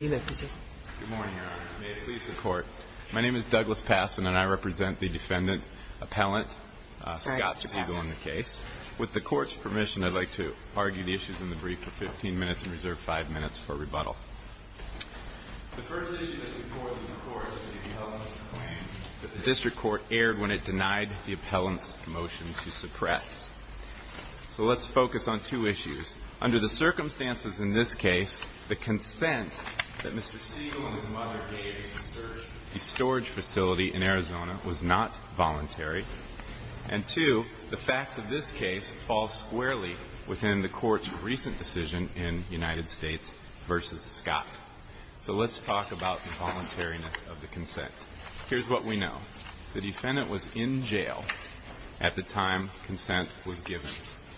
Good morning, Your Honor. May it please the Court, my name is Douglas Passon and I represent the defendant, Appellant Scott Segal in the case. With the Court's permission, I'd like to argue the issues in the brief for 15 minutes and reserve 5 minutes for rebuttal. The first issue is the Court's claim that the District Court erred when it denied the Appellant's motion to suppress. So let's focus on two issues. Under the circumstances in this case, the consent that Mr. Segal and his mother gave to search the storage facility in Arizona was not voluntary. And two, the facts of this case fall squarely within the Court's recent decision in United States v. Scott. So let's talk about the voluntariness of the consent. Here's what we know. The defendant was in jail at the time consent was given.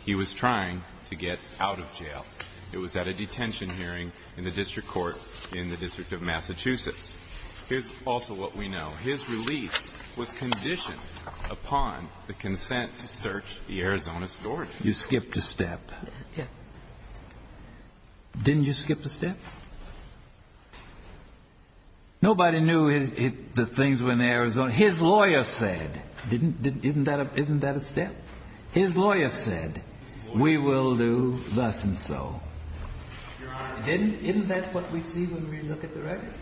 He was trying to get out of jail. It was at a detention hearing in the District Court in the District of Massachusetts. Here's also what we know. His release was conditioned upon the consent to search the Arizona storage facility. You skipped a step. Yes. Didn't you skip a step? Nobody knew the things were in Arizona. His lawyer said. Isn't that a step? His lawyer said, we will do thus and so. Isn't that what we see when we look at the record?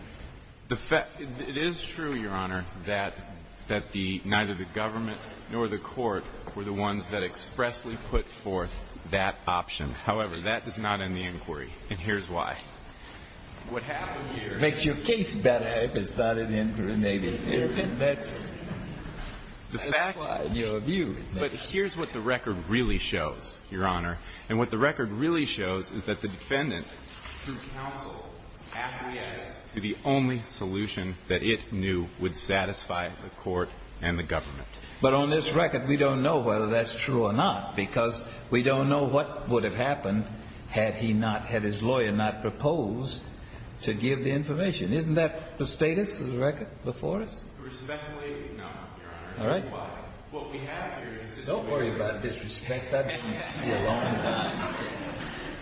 It is true, Your Honor, that neither the government nor the Court were the ones that expressly put forth that option. However, that does not end the inquiry, and here's why. What happened here. Makes your case better if it's not an inquiry, maybe. That's your view. But here's what the record really shows, Your Honor. And what the record really shows is that the defendant, through counsel, acquiesced to the only solution that it knew would satisfy the Court and the government. But on this record, we don't know whether that's true or not, because we don't know what would have happened had he not, had his lawyer not proposed to give the information. Isn't that the status of the record before us? Respectfully, no, Your Honor. All right. That's why. What we have here is a situation. Don't worry about disrespect. I haven't seen it in a long time.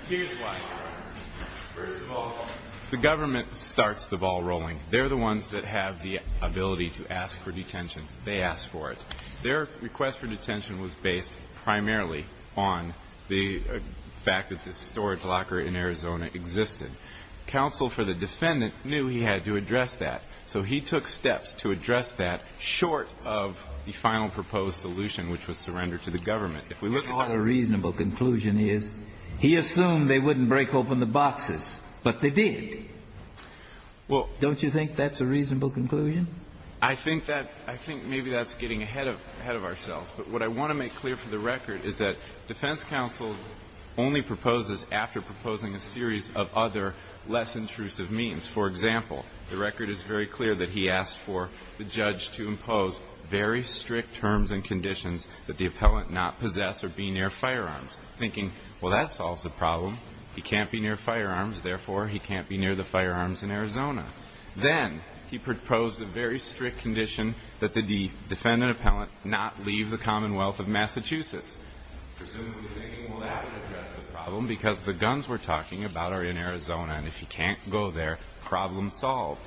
Here's why, Your Honor. First of all, the government starts the ball rolling. They're the ones that have the ability to ask for detention. They ask for it. Their request for detention was based primarily on the fact that the storage locker in Arizona existed. Counsel for the defendant knew he had to address that, so he took steps to address that short of the final proposed solution, which was surrender to the government. If we look at that. What a reasonable conclusion he is. He assumed they wouldn't break open the boxes, but they did. Well. Don't you think that's a reasonable conclusion? I think that, I think maybe that's getting ahead of, ahead of ourselves. But what I want to make clear for the record is that defense counsel only proposes after proposing a series of other less intrusive means. For example, the record is very clear that he asked for the judge to impose very strict terms and conditions that the appellant not possess or be near firearms, thinking, well, that solves the problem. He can't be near firearms. Therefore, he can't be near the firearms in Arizona. Then he proposed a very strict condition that the defendant appellant not leave the Commonwealth of Massachusetts. Presumably thinking, well, that would address the problem because the guns we're talking about are in Arizona, and if he can't go there, problem solved.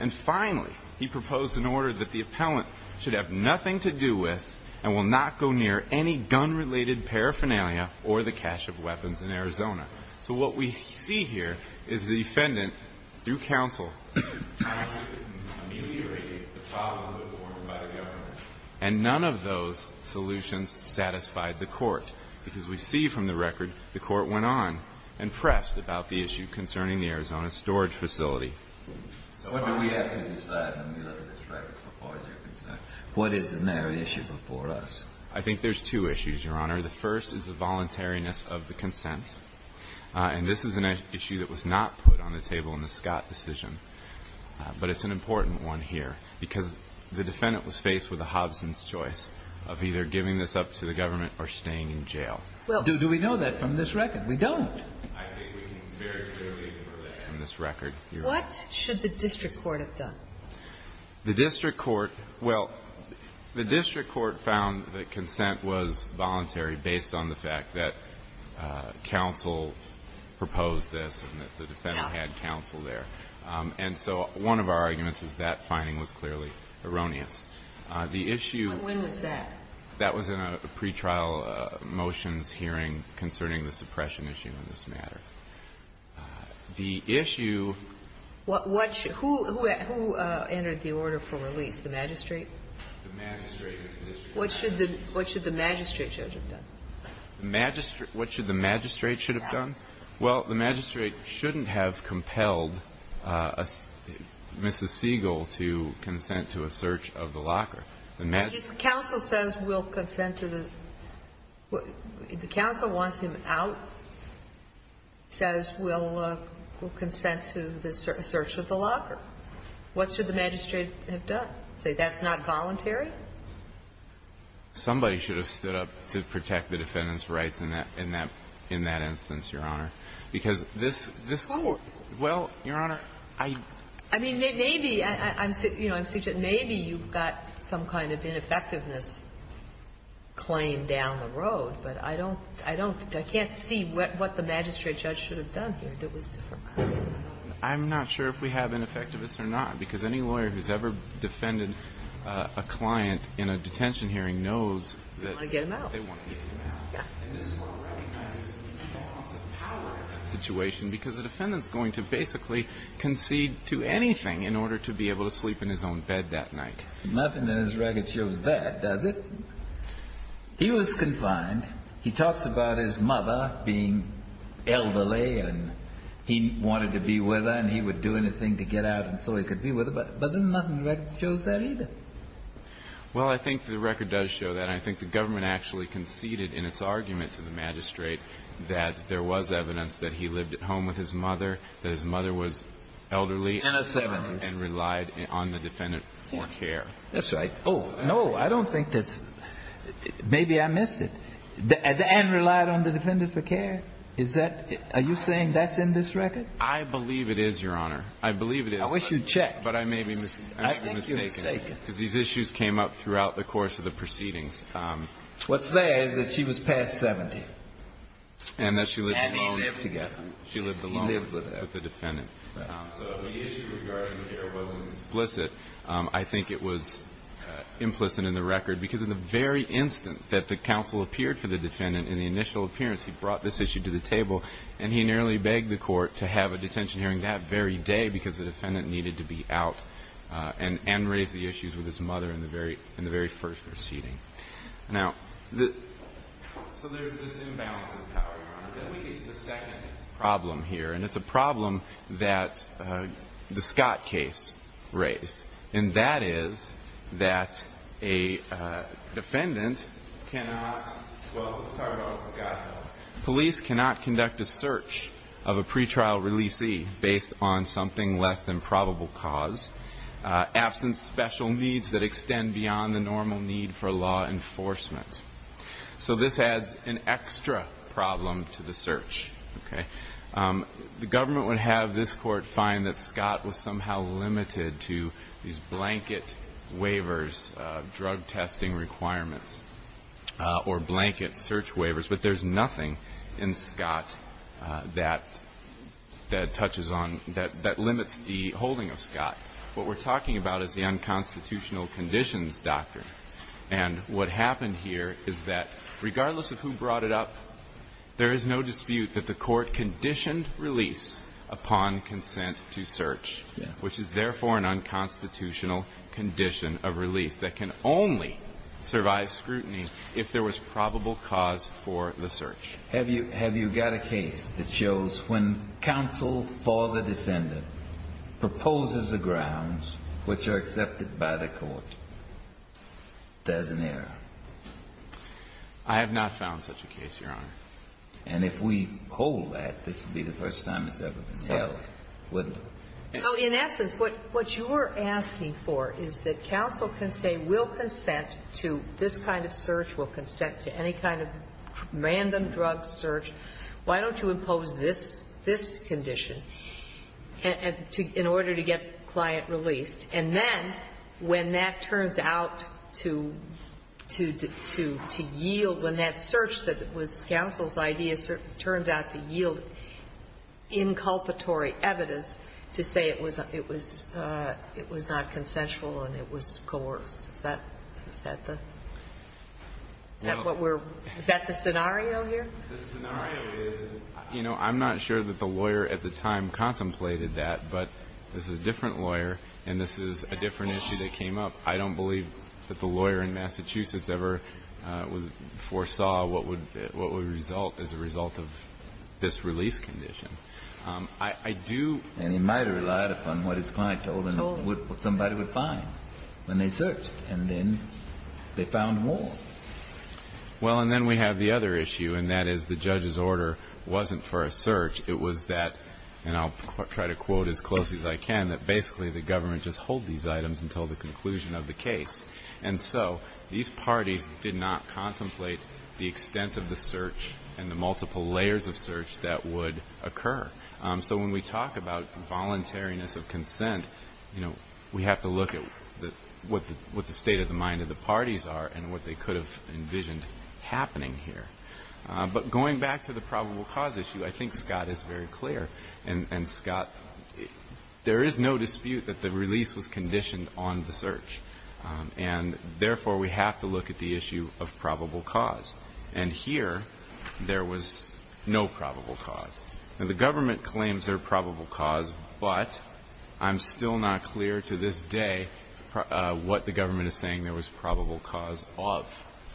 And finally, he proposed an order that the appellant should have nothing to do with and will not go near any gun-related paraphernalia or the cache of weapons in Arizona. So what we see here is the defendant, through counsel, tried to ameliorate the problem that was formed by the government. And none of those solutions satisfied the Court, because we see from the record the Court went on and pressed about the issue concerning the Arizona storage facility. So what do we have to decide when we look at this record so far as you're concerned? What is the narrow issue before us? I think there's two issues, Your Honor. The first is the voluntariness of the consent, and this is an issue that was not put on the table in the Scott decision. But it's an important one here, because the defendant was faced with a Hobson's choice of either giving this up to the government or staying in jail. Well, do we know that from this record? We don't. I think we can very clearly infer that from this record, Your Honor. What should the district court have done? The district court – well, the district court found that consent was voluntary based on the fact that counsel proposed this and that the defendant had counsel there. And so one of our arguments is that finding was clearly erroneous. The issue – But when was that? That was in a pretrial motions hearing concerning the suppression issue in this matter. The issue – What should – who entered the order for release? The magistrate? The magistrate of the district court. What should the magistrate should have done? The magistrate – what should the magistrate should have done? Well, the magistrate shouldn't have compelled Mrs. Siegel to consent to a search of the locker. The magistrate – If counsel says we'll consent to the – if the counsel wants him out, says we'll consent to the search of the locker, what should the magistrate have done? Say that's not voluntary? Somebody should have stood up to protect the defendant's rights in that – in that instance, Your Honor. Because this – this – Well, Your Honor, I – I mean, maybe – I'm – you know, I'm – maybe you've got some kind of ineffectiveness claim down the road, but I don't – I don't – I can't see what the magistrate should have done here that was different. I'm not sure if we have ineffectiveness or not, because any lawyer who's ever defended a client in a detention hearing knows that – They want to get him out. They want to get him out. Yeah. And this is what recognizes the importance of power in that situation, because the defendant's going to basically concede to anything in order to be able to sleep in his own bed that night. Nothing in this record shows that, does it? He was confined. He talks about his mother being elderly, and he wanted to be with her, and he would do anything to get out so he could be with her, but there's nothing in the record that shows that either. Well, I think the record does show that. I think the government actually conceded in its argument to the magistrate that there was evidence that he lived at home with his mother, that his mother was elderly – In her seventies. And relied on the defendant for care. That's right. Oh, no, I don't think that's – maybe I missed it. And relied on the defendant for care? Is that – are you saying that's in this record? I believe it is, Your Honor. I believe it is. I wish you'd checked. But I may be mistaken. I think you're mistaken. Because these issues came up throughout the course of the proceedings. What's there is that she was past 70. And that she lived alone. And he lived together. She lived alone with the defendant. So if the issue regarding care wasn't explicit, I think it was implicit in the record, because in the very instant that the counsel appeared for the defendant in the initial appearance, he brought this issue to the table. And he nearly begged the court to have a detention hearing that very day, because the defendant needed to be out and raise the issues with his mother in the very first proceeding. Now, so there's this imbalance of power, Your Honor. Then we get to the second problem here. And it's a problem that the Scott case raised. And that is that a defendant cannot, well, let's talk about Scott. Police cannot conduct a search of a pretrial releasee based on something less than probable cause, absent special needs that extend beyond the normal need for law enforcement. So this adds an extra problem to the search. The government would have this court find that Scott was somehow limited to these blanket waivers, drug testing requirements, or blanket search waivers. But there's nothing in Scott that touches on, that limits the holding of Scott. What we're talking about is the unconstitutional conditions doctrine. And what happened here is that regardless of who brought it up, there is no dispute that the court conditioned release upon consent to search, which is therefore an unconstitutional condition of release that can only survive scrutiny if there was probable cause for the search. Have you got a case that shows when counsel for the defendant proposes the grounds which are accepted by the court, there's an error? I have not found such a case, Your Honor. And if we hold that, this would be the first time it's ever been held, wouldn't it? So in essence, what you're asking for is that counsel can say, we'll consent to this kind of search, we'll consent to any kind of random drug search. Why don't you impose this condition in order to get the client released? And then when that turns out to yield, when that search that was counsel's idea turns out to yield inculpatory evidence to say it was not consensual and it was coerced, is that the scenario here? The scenario is, you know, I'm not sure that the lawyer at the time contemplated that, but this is a different lawyer and this is a different issue that came up. I don't believe that the lawyer in Massachusetts ever foresaw what would result as a result of this release condition. And he might have relied upon what his client told him, what somebody would find when they searched, and then they found more. Well, and then we have the other issue, and that is the judge's order wasn't for a search. It was that, and I'll try to quote as closely as I can, that basically the government just hold these items until the conclusion of the case. And so these parties did not contemplate the extent of the search and the multiple layers of search that would occur. So when we talk about voluntariness of consent, you know, we have to look at what the state of the mind of the parties are and what they could have envisioned happening here. But going back to the probable cause issue, I think Scott is very clear. And, Scott, there is no dispute that the release was conditioned on the search. And, therefore, we have to look at the issue of probable cause. And here there was no probable cause. Now, the government claims there's probable cause, but I'm still not clear to this day what the government is saying there was probable cause of,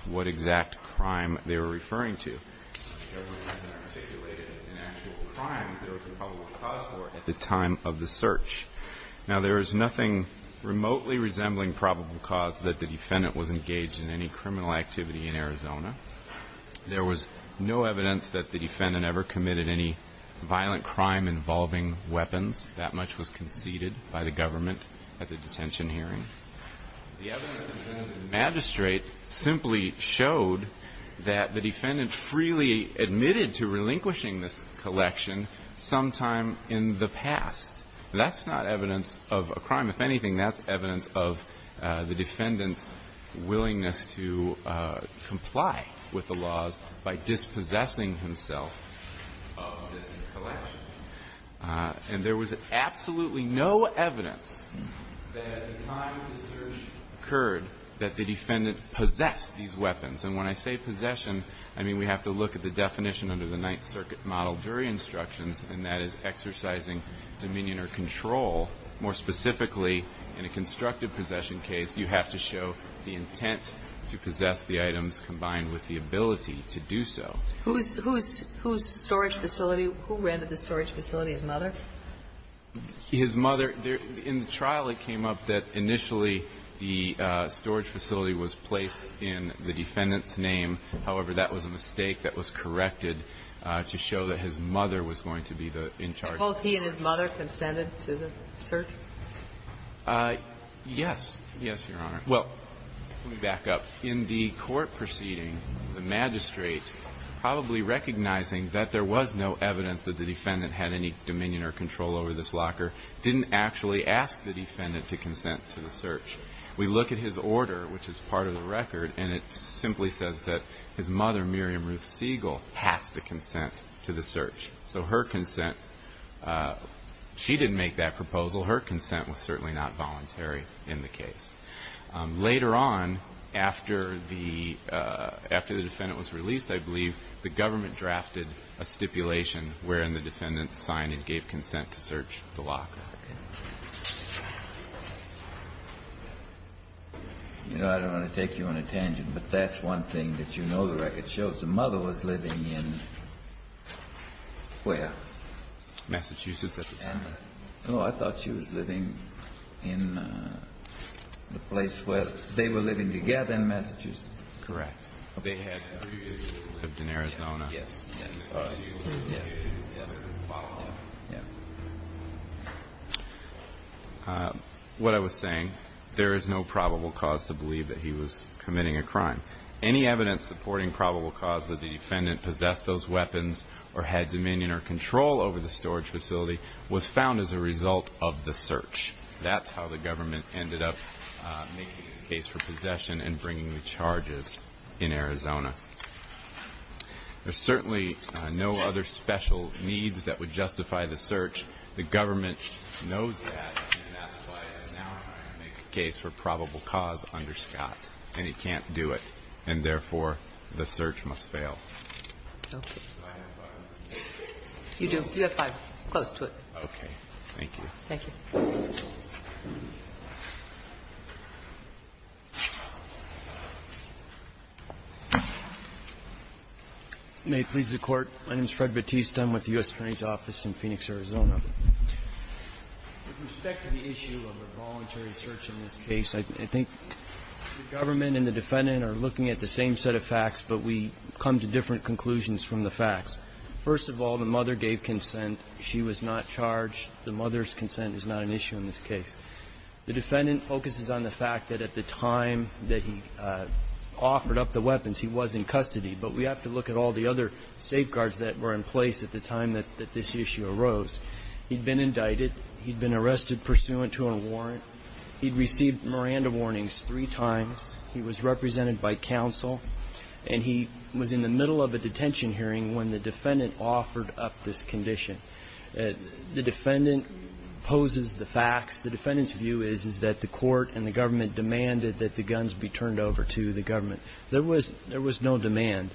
what exact crime they were referring to. The government has not articulated an actual crime there was a probable cause for at the time of the search. Now, there is nothing remotely resembling probable cause that the defendant was engaged in any criminal activity in Arizona. There was no evidence that the defendant ever committed any violent crime involving weapons. That much was conceded by the government at the detention hearing. The evidence presented to the magistrate simply showed that the defendant freely admitted to relinquishing this collection sometime in the past. That's not evidence of a crime. If anything, that's evidence of the defendant's willingness to comply with the laws by dispossessing himself of this collection. And there was absolutely no evidence that at the time of the search occurred that the defendant possessed these weapons. And when I say possession, I mean we have to look at the definition under the Ninth Circuit model jury instructions, and that is exercising dominion or control. More specifically, in a constructive possession case, you have to show the intent to possess the items combined with the ability to do so. Whose storage facility? Who rented the storage facility? His mother? His mother. In the trial, it came up that initially the storage facility was placed in the defendant's name. However, that was a mistake that was corrected to show that his mother was going to be in charge. And both he and his mother consented to the search? Yes. Yes, Your Honor. Well, let me back up. In the court proceeding, the magistrate, probably recognizing that there was no evidence that the defendant had any dominion or control over this locker, didn't actually ask the defendant to consent to the search. We look at his order, which is part of the record, and it simply says that his mother, Miriam Ruth Siegel, has to consent to the search. So her consent, she didn't make that proposal. Her consent was certainly not voluntary in the case. Later on, after the defendant was released, I believe, the government drafted a stipulation wherein the defendant signed and gave consent to search the locker. Okay. You know, I don't want to take you on a tangent, but that's one thing that you know the record shows. The mother was living in where? Massachusetts at the time. No, I thought she was living in the place where they were living together in Massachusetts. Correct. They had previously lived in Arizona. Yes. Yes. Yes. Yes. Yes. Yes. What I was saying, there is no probable cause to believe that he was committing a crime. Any evidence supporting probable cause that the defendant possessed those weapons or had dominion or control over the storage facility was found as a result of the search. That's how the government ended up making his case for possession and bringing the charges in Arizona. There's certainly no other special needs that would justify the search. The government knows that, and that's why it's now time to make a case for probable cause under Scott, and he can't do it, and therefore the search must fail. Okay. You do. You have five. Close to it. Okay. Thank you. Thank you. May it please the Court. My name is Fred Batista. I'm with the U.S. Attorney's Office in Phoenix, Arizona. With respect to the issue of a voluntary search in this case, I think the government and the defendant are looking at the same set of facts, but we come to different conclusions from the facts. First of all, the mother gave consent. She was not charged. The mother's consent is not an issue in this case. The defendant focuses on the fact that at the time that he offered up the weapons, he was in custody. But we have to look at all the other safeguards that were in place at the time that this issue arose. He'd been indicted. He'd been arrested pursuant to a warrant. He'd received Miranda warnings three times. He was represented by counsel. And he was in the middle of a detention hearing when the defendant offered up this condition. The defendant poses the facts. The defendant's view is that the court and the government demanded that the guns be turned over to the government. There was no demand.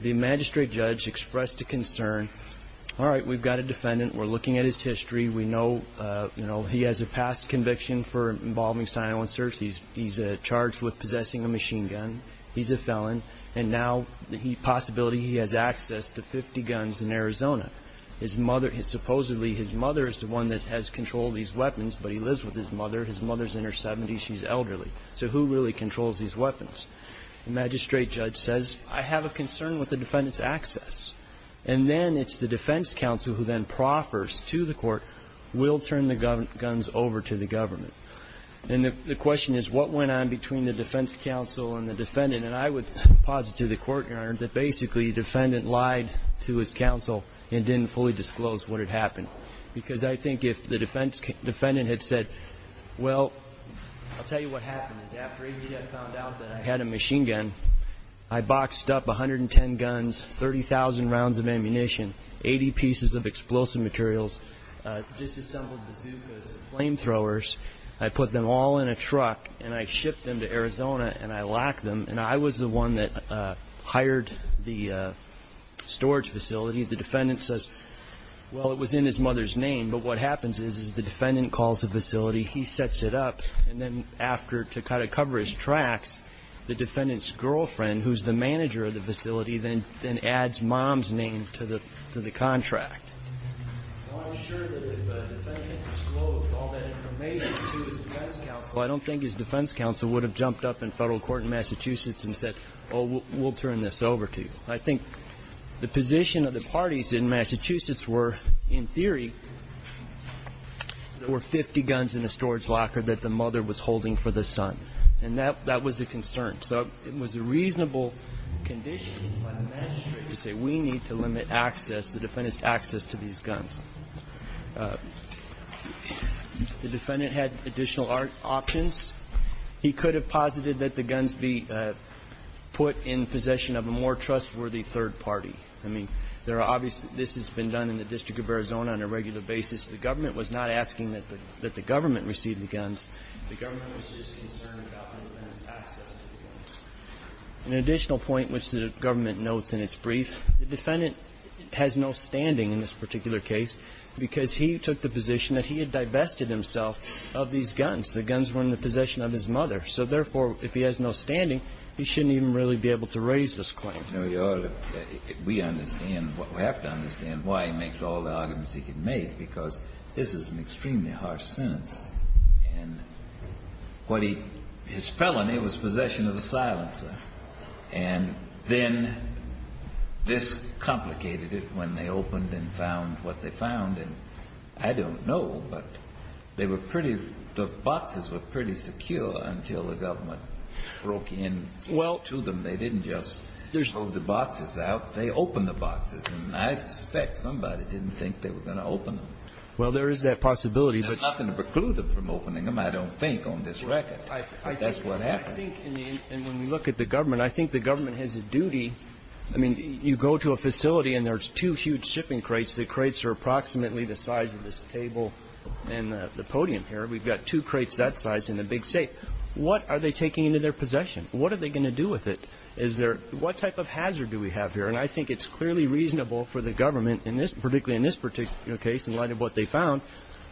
The magistrate judge expressed a concern. All right, we've got a defendant. We're looking at his history. We know, you know, he has a past conviction for involving silencers. He's charged with possessing a machine gun. He's a felon. And now the possibility he has access to 50 guns in Arizona. His mother, supposedly his mother is the one that has control of these weapons, but he lives with his mother. His mother's in her 70s. She's elderly. So who really controls these weapons? The magistrate judge says, I have a concern with the defendant's access. And then it's the defense counsel who then proffers to the court, we'll turn the guns over to the government. And the question is what went on between the defense counsel and the defendant? And I would posit to the court, Your Honor, that basically the defendant lied to his counsel and didn't fully disclose what had happened. Because I think if the defendant had said, well, I'll tell you what happened. After H.F. found out that I had a machine gun, I boxed up 110 guns, 30,000 rounds of ammunition, 80 pieces of explosive materials, disassembled bazookas and flamethrowers. I put them all in a truck and I shipped them to Arizona and I locked them. And I was the one that hired the storage facility. The defendant says, well, it was in his mother's name. But what happens is the defendant calls the facility, he sets it up, and then after to kind of cover his tracks, the defendant's girlfriend, who's the manager of the facility, then adds mom's name to the contract. So I'm sure that if the defendant disclosed all that information to his defense counsel, I don't think his defense counsel would have jumped up in federal court in Massachusetts and said, oh, we'll turn this over to you. I think the position of the parties in Massachusetts were, in theory, there were 50 guns in the storage locker that the mother was holding for the son. And that was a concern. So it was a reasonable condition by the magistrate to say we need to limit access, the defendant's access to these guns. The defendant had additional options. He could have posited that the guns be put in possession of a more trustworthy third party. I mean, there are obvious that this has been done in the District of Arizona on a regular basis. The government was not asking that the government receive the guns. The government was just concerned about the defendant's access to the guns. An additional point which the government notes in its brief, the defendant has no standing in this particular case because he took the position that he had divested himself of these guns. The guns were in the possession of his mother. So, therefore, if he has no standing, he shouldn't even really be able to raise this claim. You know, Your Honor, we understand, we have to understand why he makes all the arguments he can make, because this is an extremely harsh sentence. And what he, his felony was possession of a silencer. And then this complicated it when they opened and found what they found. And I don't know, but they were pretty, the boxes were pretty secure until the government broke in to them. They didn't just throw the boxes out. They opened the boxes. And I suspect somebody didn't think they were going to open them. Well, there is that possibility. There's nothing to preclude them from opening them, I don't think, on this record. That's what happened. I think, and when we look at the government, I think the government has a duty. I mean, you go to a facility and there's two huge shipping crates. The crates are approximately the size of this table and the podium here. We've got two crates that size in a big safe. What are they taking into their possession? What are they going to do with it? Is there, what type of hazard do we have here? And I think it's clearly reasonable for the government, particularly in this particular case, in light of what they found,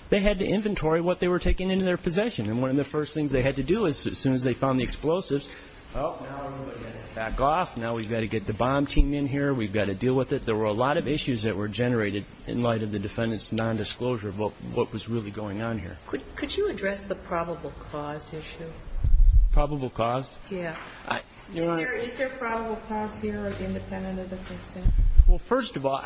they had to inventory what they were taking into their possession. And one of the first things they had to do as soon as they found the explosives, oh, now everybody has to back off. Now we've got to get the bomb team in here. We've got to deal with it. There were a lot of issues that were generated in light of the defendant's nondisclosure of what was really going on here. Could you address the probable cause issue? Probable cause? Yeah. Is there probable cause here or independent of the case? Well, first of all,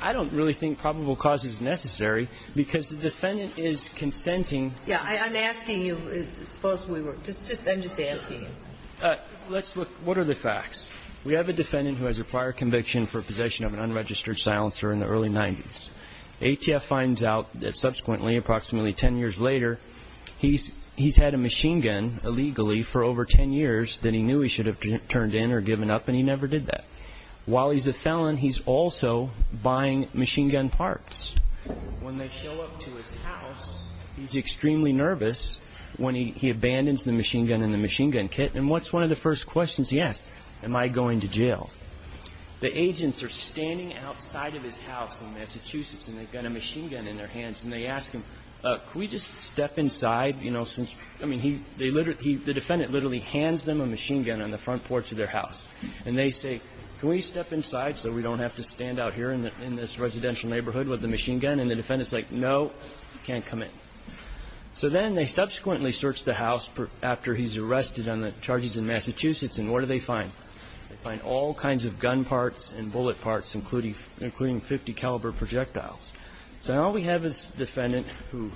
I don't really think probable cause is necessary because the defendant is consenting. Yeah. I'm asking you as opposed to we were. I'm just asking you. Let's look. What are the facts? We have a defendant who has a prior conviction for possession of an unregistered silencer in the early 90s. ATF finds out that subsequently, approximately 10 years later, he's had a machine gun illegally for over 10 years that he knew he should have turned in or given up, and he never did that. While he's a felon, he's also buying machine gun parts. When they show up to his house, he's extremely nervous when he abandons the machine gun and the machine gun kit. And what's one of the first questions he asks? Am I going to jail? The agents are standing outside of his house in Massachusetts, and they've got a machine gun in their hands. And they ask him, could we just step inside? You know, since, I mean, the defendant literally hands them a machine gun on the front porch of their house. And they say, can we step inside so we don't have to stand out here in this residential neighborhood with the machine gun? And the defendant's like, no, you can't come in. So then they subsequently search the house after he's arrested on the charges in Massachusetts, and what do they find? They find all kinds of gun parts and bullet parts, including 50 caliber projectiles. So now we have this defendant who,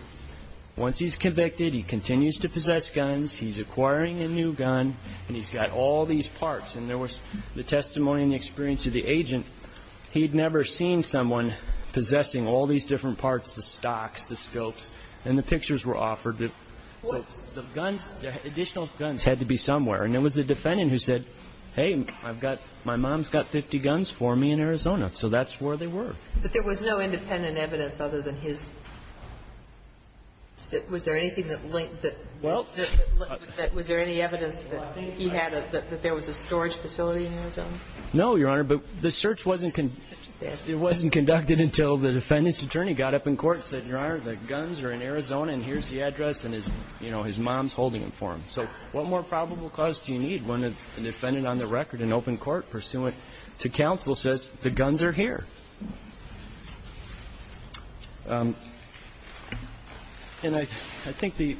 once he's convicted, he continues to possess guns, he's acquiring a new gun, and he's got all these parts. And there was the testimony and the experience of the agent. He had never seen someone possessing all these different parts, the stocks, the scopes, and the pictures were offered. So the guns, additional guns had to be somewhere. And it was the defendant who said, hey, I've got, my mom's got 50 guns for me in Arizona. So that's where they were. But there was no independent evidence other than his, was there anything that linked that? Well. Was there any evidence that he had, that there was a storage facility in Arizona? No, Your Honor. But the search wasn't, it wasn't conducted until the defendant's attorney got up in court and said, Your Honor, the guns are in Arizona and here's the address and, you know, his mom's holding them for him. So what more probable cause do you need when a defendant on the record in open court pursuant to counsel says the guns are here? And I think the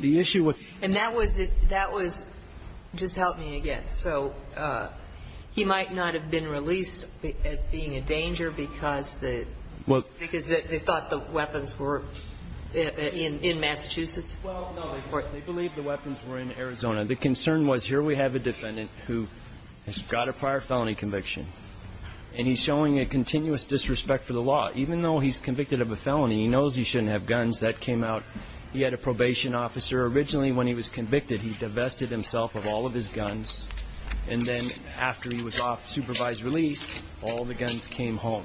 issue with. And that was, that was, just help me again. So he might not have been released as being a danger because the, because they thought the weapons were in Massachusetts? Well, no. They believed the weapons were in Arizona. The concern was here we have a defendant who has got a prior felony conviction and he's showing a continuous disrespect for the law. Even though he's convicted of a felony, he knows he shouldn't have guns. That came out. He had a probation officer. Originally when he was convicted, he divested himself of all of his guns. And then after he was off supervised release, all the guns came home.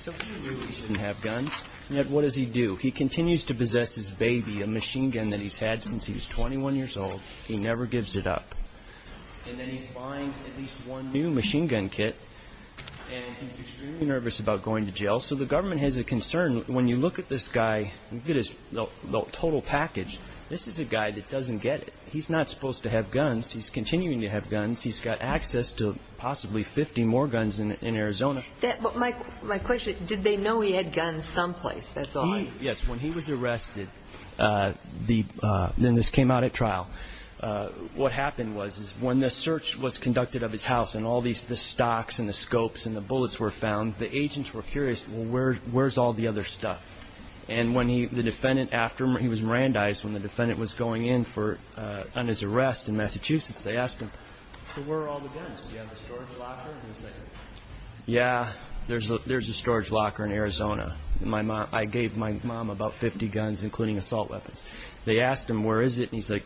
So he knew he shouldn't have guns. And yet what does he do? He continues to possess his baby, a machine gun that he's had since he was 21 years old. He never gives it up. And then he's buying at least one new machine gun kit. And he's extremely nervous about going to jail. So the government has a concern. When you look at this guy, look at his total package. This is a guy that doesn't get it. He's not supposed to have guns. He's continuing to have guns. He's got access to possibly 50 more guns in Arizona. My question, did they know he had guns someplace? That's all I'm asking. Yes. When he was arrested, then this came out at trial. What happened was when the search was conducted of his house and all the stocks and the scopes and the bullets were found, the agents were curious, well, where's all the other stuff? And when the defendant, after he was Mirandized, when the defendant was going in on his arrest in Massachusetts, they asked him, so where are all the guns? Do you have a storage locker? Yeah, there's a storage locker in Arizona. I gave my mom about 50 guns, including assault weapons. They asked him, where is it? And he's like,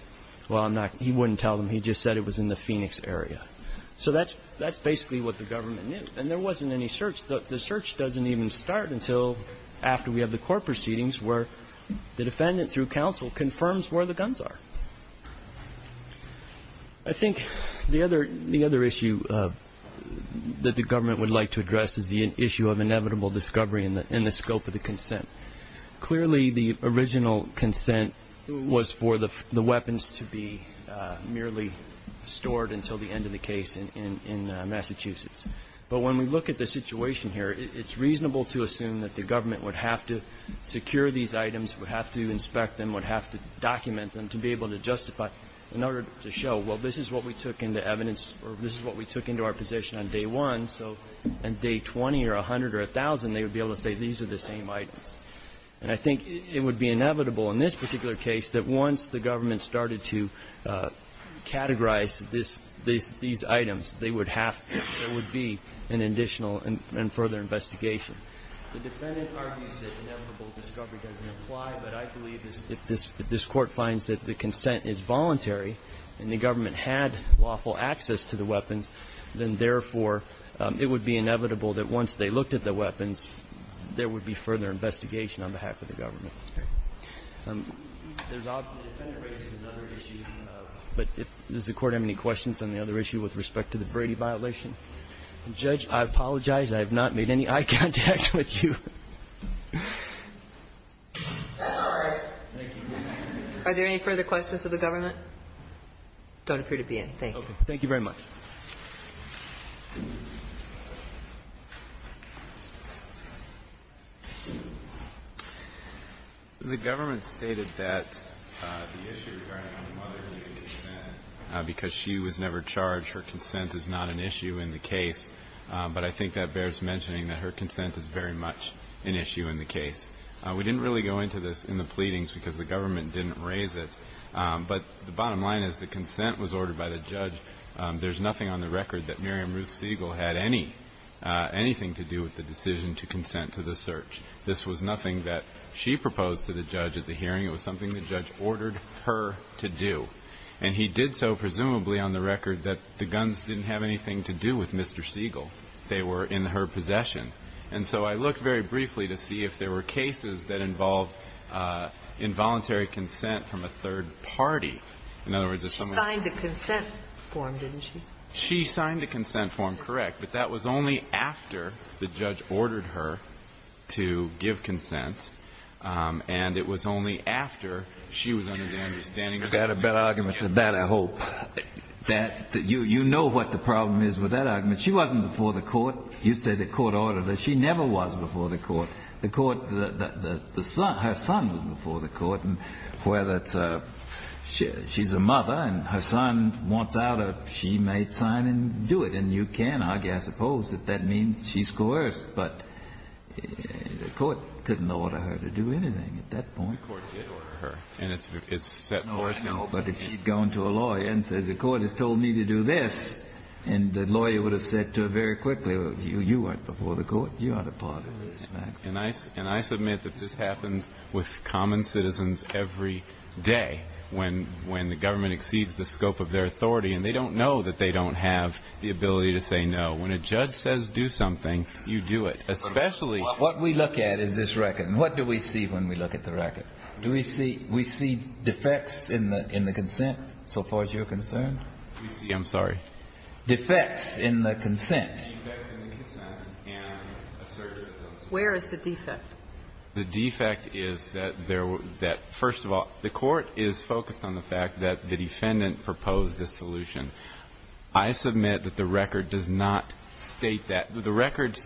well, he wouldn't tell them. He just said it was in the Phoenix area. So that's basically what the government knew. And there wasn't any search. The search doesn't even start until after we have the court proceedings where the defendant, through counsel, confirms where the guns are. I think the other issue that the government would like to address is the issue of inevitable discovery in the scope of the consent. Clearly, the original consent was for the weapons to be merely stored until the end of the case in Massachusetts. But when we look at the situation here, it's reasonable to assume that the government would have to secure these items, would have to inspect them, would have to document them to be able to justify in order to show, well, this is what we took into evidence, or this is what we took into our possession on day one. So on day 20 or 100 or 1,000, they would be able to say these are the same items. And I think it would be inevitable in this particular case that once the government started to categorize these items, they would have to, there would be an additional and further investigation. The defendant argues that inevitable discovery doesn't apply, but I believe if this Court finds that the consent is voluntary and the government had lawful access to the weapons, then, therefore, it would be inevitable that once they looked at the weapons, there would be further investigation on behalf of the government. The defendant raises another issue. But does the Court have any questions on the other issue with respect to the Brady violation? Judge, I apologize. I have not made any eye contact with you. Thank you. Are there any further questions of the government? I don't appear to be in. Thank you. The government stated that the issue regarding her mother's consent because she was never charged, her consent is not an issue in the case. But I think that bears mentioning that her consent is very much an issue in the case. We didn't really go into this in the pleadings because the government didn't raise it. But the bottom line is the consent was ordered by the judge. There's nothing on the record that Miriam Ruth Siegel had anything to do with the decision to consent to the search. This was nothing that she proposed to the judge at the hearing. It was something the judge ordered her to do. And he did so presumably on the record that the guns didn't have anything to do with Mr. Siegel. They were in her possession. And so I look very briefly to see if there were cases that involved involuntary consent from a third party. In other words, it's something like that. She signed the consent form, didn't she? She signed the consent form, correct. But that was only after the judge ordered her to give consent. And it was only after she was under the understanding of that. You've got a better argument than that, I hope. You know what the problem is with that argument. She wasn't before the court. You'd say the court ordered her. The court, the son, her son was before the court. And whether it's a, she's a mother and her son wants out, she may sign and do it. And you can argue, I suppose, that that means she's coerced. But the court couldn't order her to do anything at that point. The court did order her. And it's set forth. No, but if she'd gone to a lawyer and said the court has told me to do this, and the lawyer would have said to her very quickly, well, you weren't before the court. You aren't a part of this. And I submit that this happens with common citizens every day when the government exceeds the scope of their authority. And they don't know that they don't have the ability to say no. When a judge says do something, you do it. What we look at is this record. And what do we see when we look at the record? Do we see defects in the consent so far as you're concerned? I'm sorry. Defects in the consent. Defects in the consent and assertiveness. Where is the defect? The defect is that there were that, first of all, the court is focused on the fact that the defendant proposed this solution. I submit that the record does not state that. The record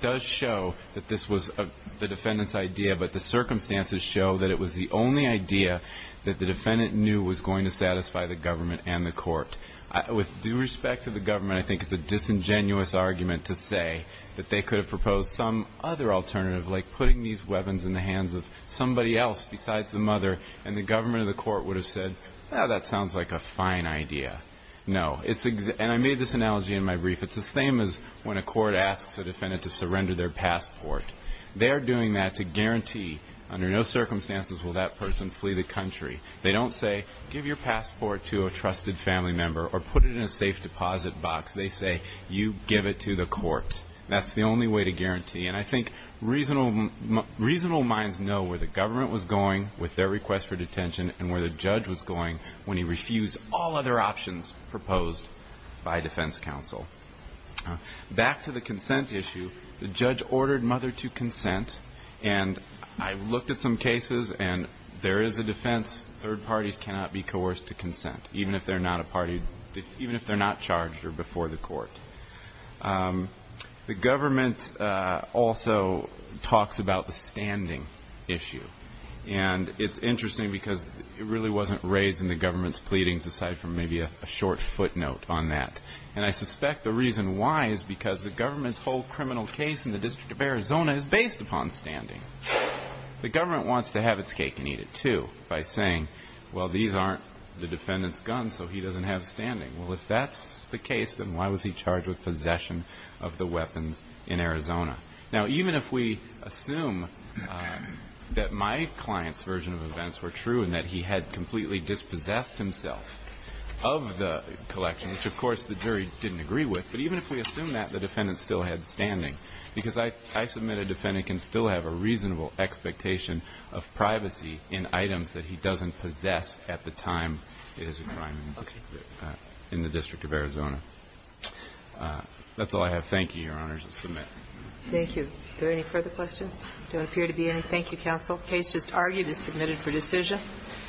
does show that this was the defendant's idea, but the circumstances show that it was the only idea that the defendant knew was going to satisfy the government and the court. With due respect to the government, I think it's a disingenuous argument to say that they could have proposed some other alternative, like putting these weapons in the hands of somebody else besides the mother, and the government or the court would have said, that sounds like a fine idea. No. And I made this analogy in my brief. It's the same as when a court asks a defendant to surrender their passport. They're doing that to guarantee under no circumstances will that person flee the country. They don't say give your passport to a trusted family member or put it in a safe deposit box. They say you give it to the court. That's the only way to guarantee. And I think reasonable minds know where the government was going with their request for detention and where the judge was going when he refused all other options proposed by defense counsel. Back to the consent issue, the judge ordered mother to consent, and I looked at some cases, and there is a defense third parties cannot be coerced to consent, even if they're not charged or before the court. The government also talks about the standing issue. And it's interesting because it really wasn't raised in the government's pleadings, aside from maybe a short footnote on that. And I suspect the reason why is because the government's whole criminal case in the District of Arizona is based upon standing. The government wants to have its cake and eat it, too, by saying, well, these aren't the defendant's guns, so he doesn't have standing. Well, if that's the case, then why was he charged with possession of the weapons in Arizona? Now, even if we assume that my client's version of events were true and that he had completely dispossessed himself of the collection, which of course the jury didn't agree with, but even if we assume that the defendant still had standing, because I submit a defendant can still have a reasonable expectation of privacy in items that he doesn't possess at the time it is a crime. Okay. In the District of Arizona. That's all I have. Thank you, Your Honors. I submit. Thank you. Are there any further questions? There don't appear to be any. Thank you, counsel. The case just argued is submitted for decision.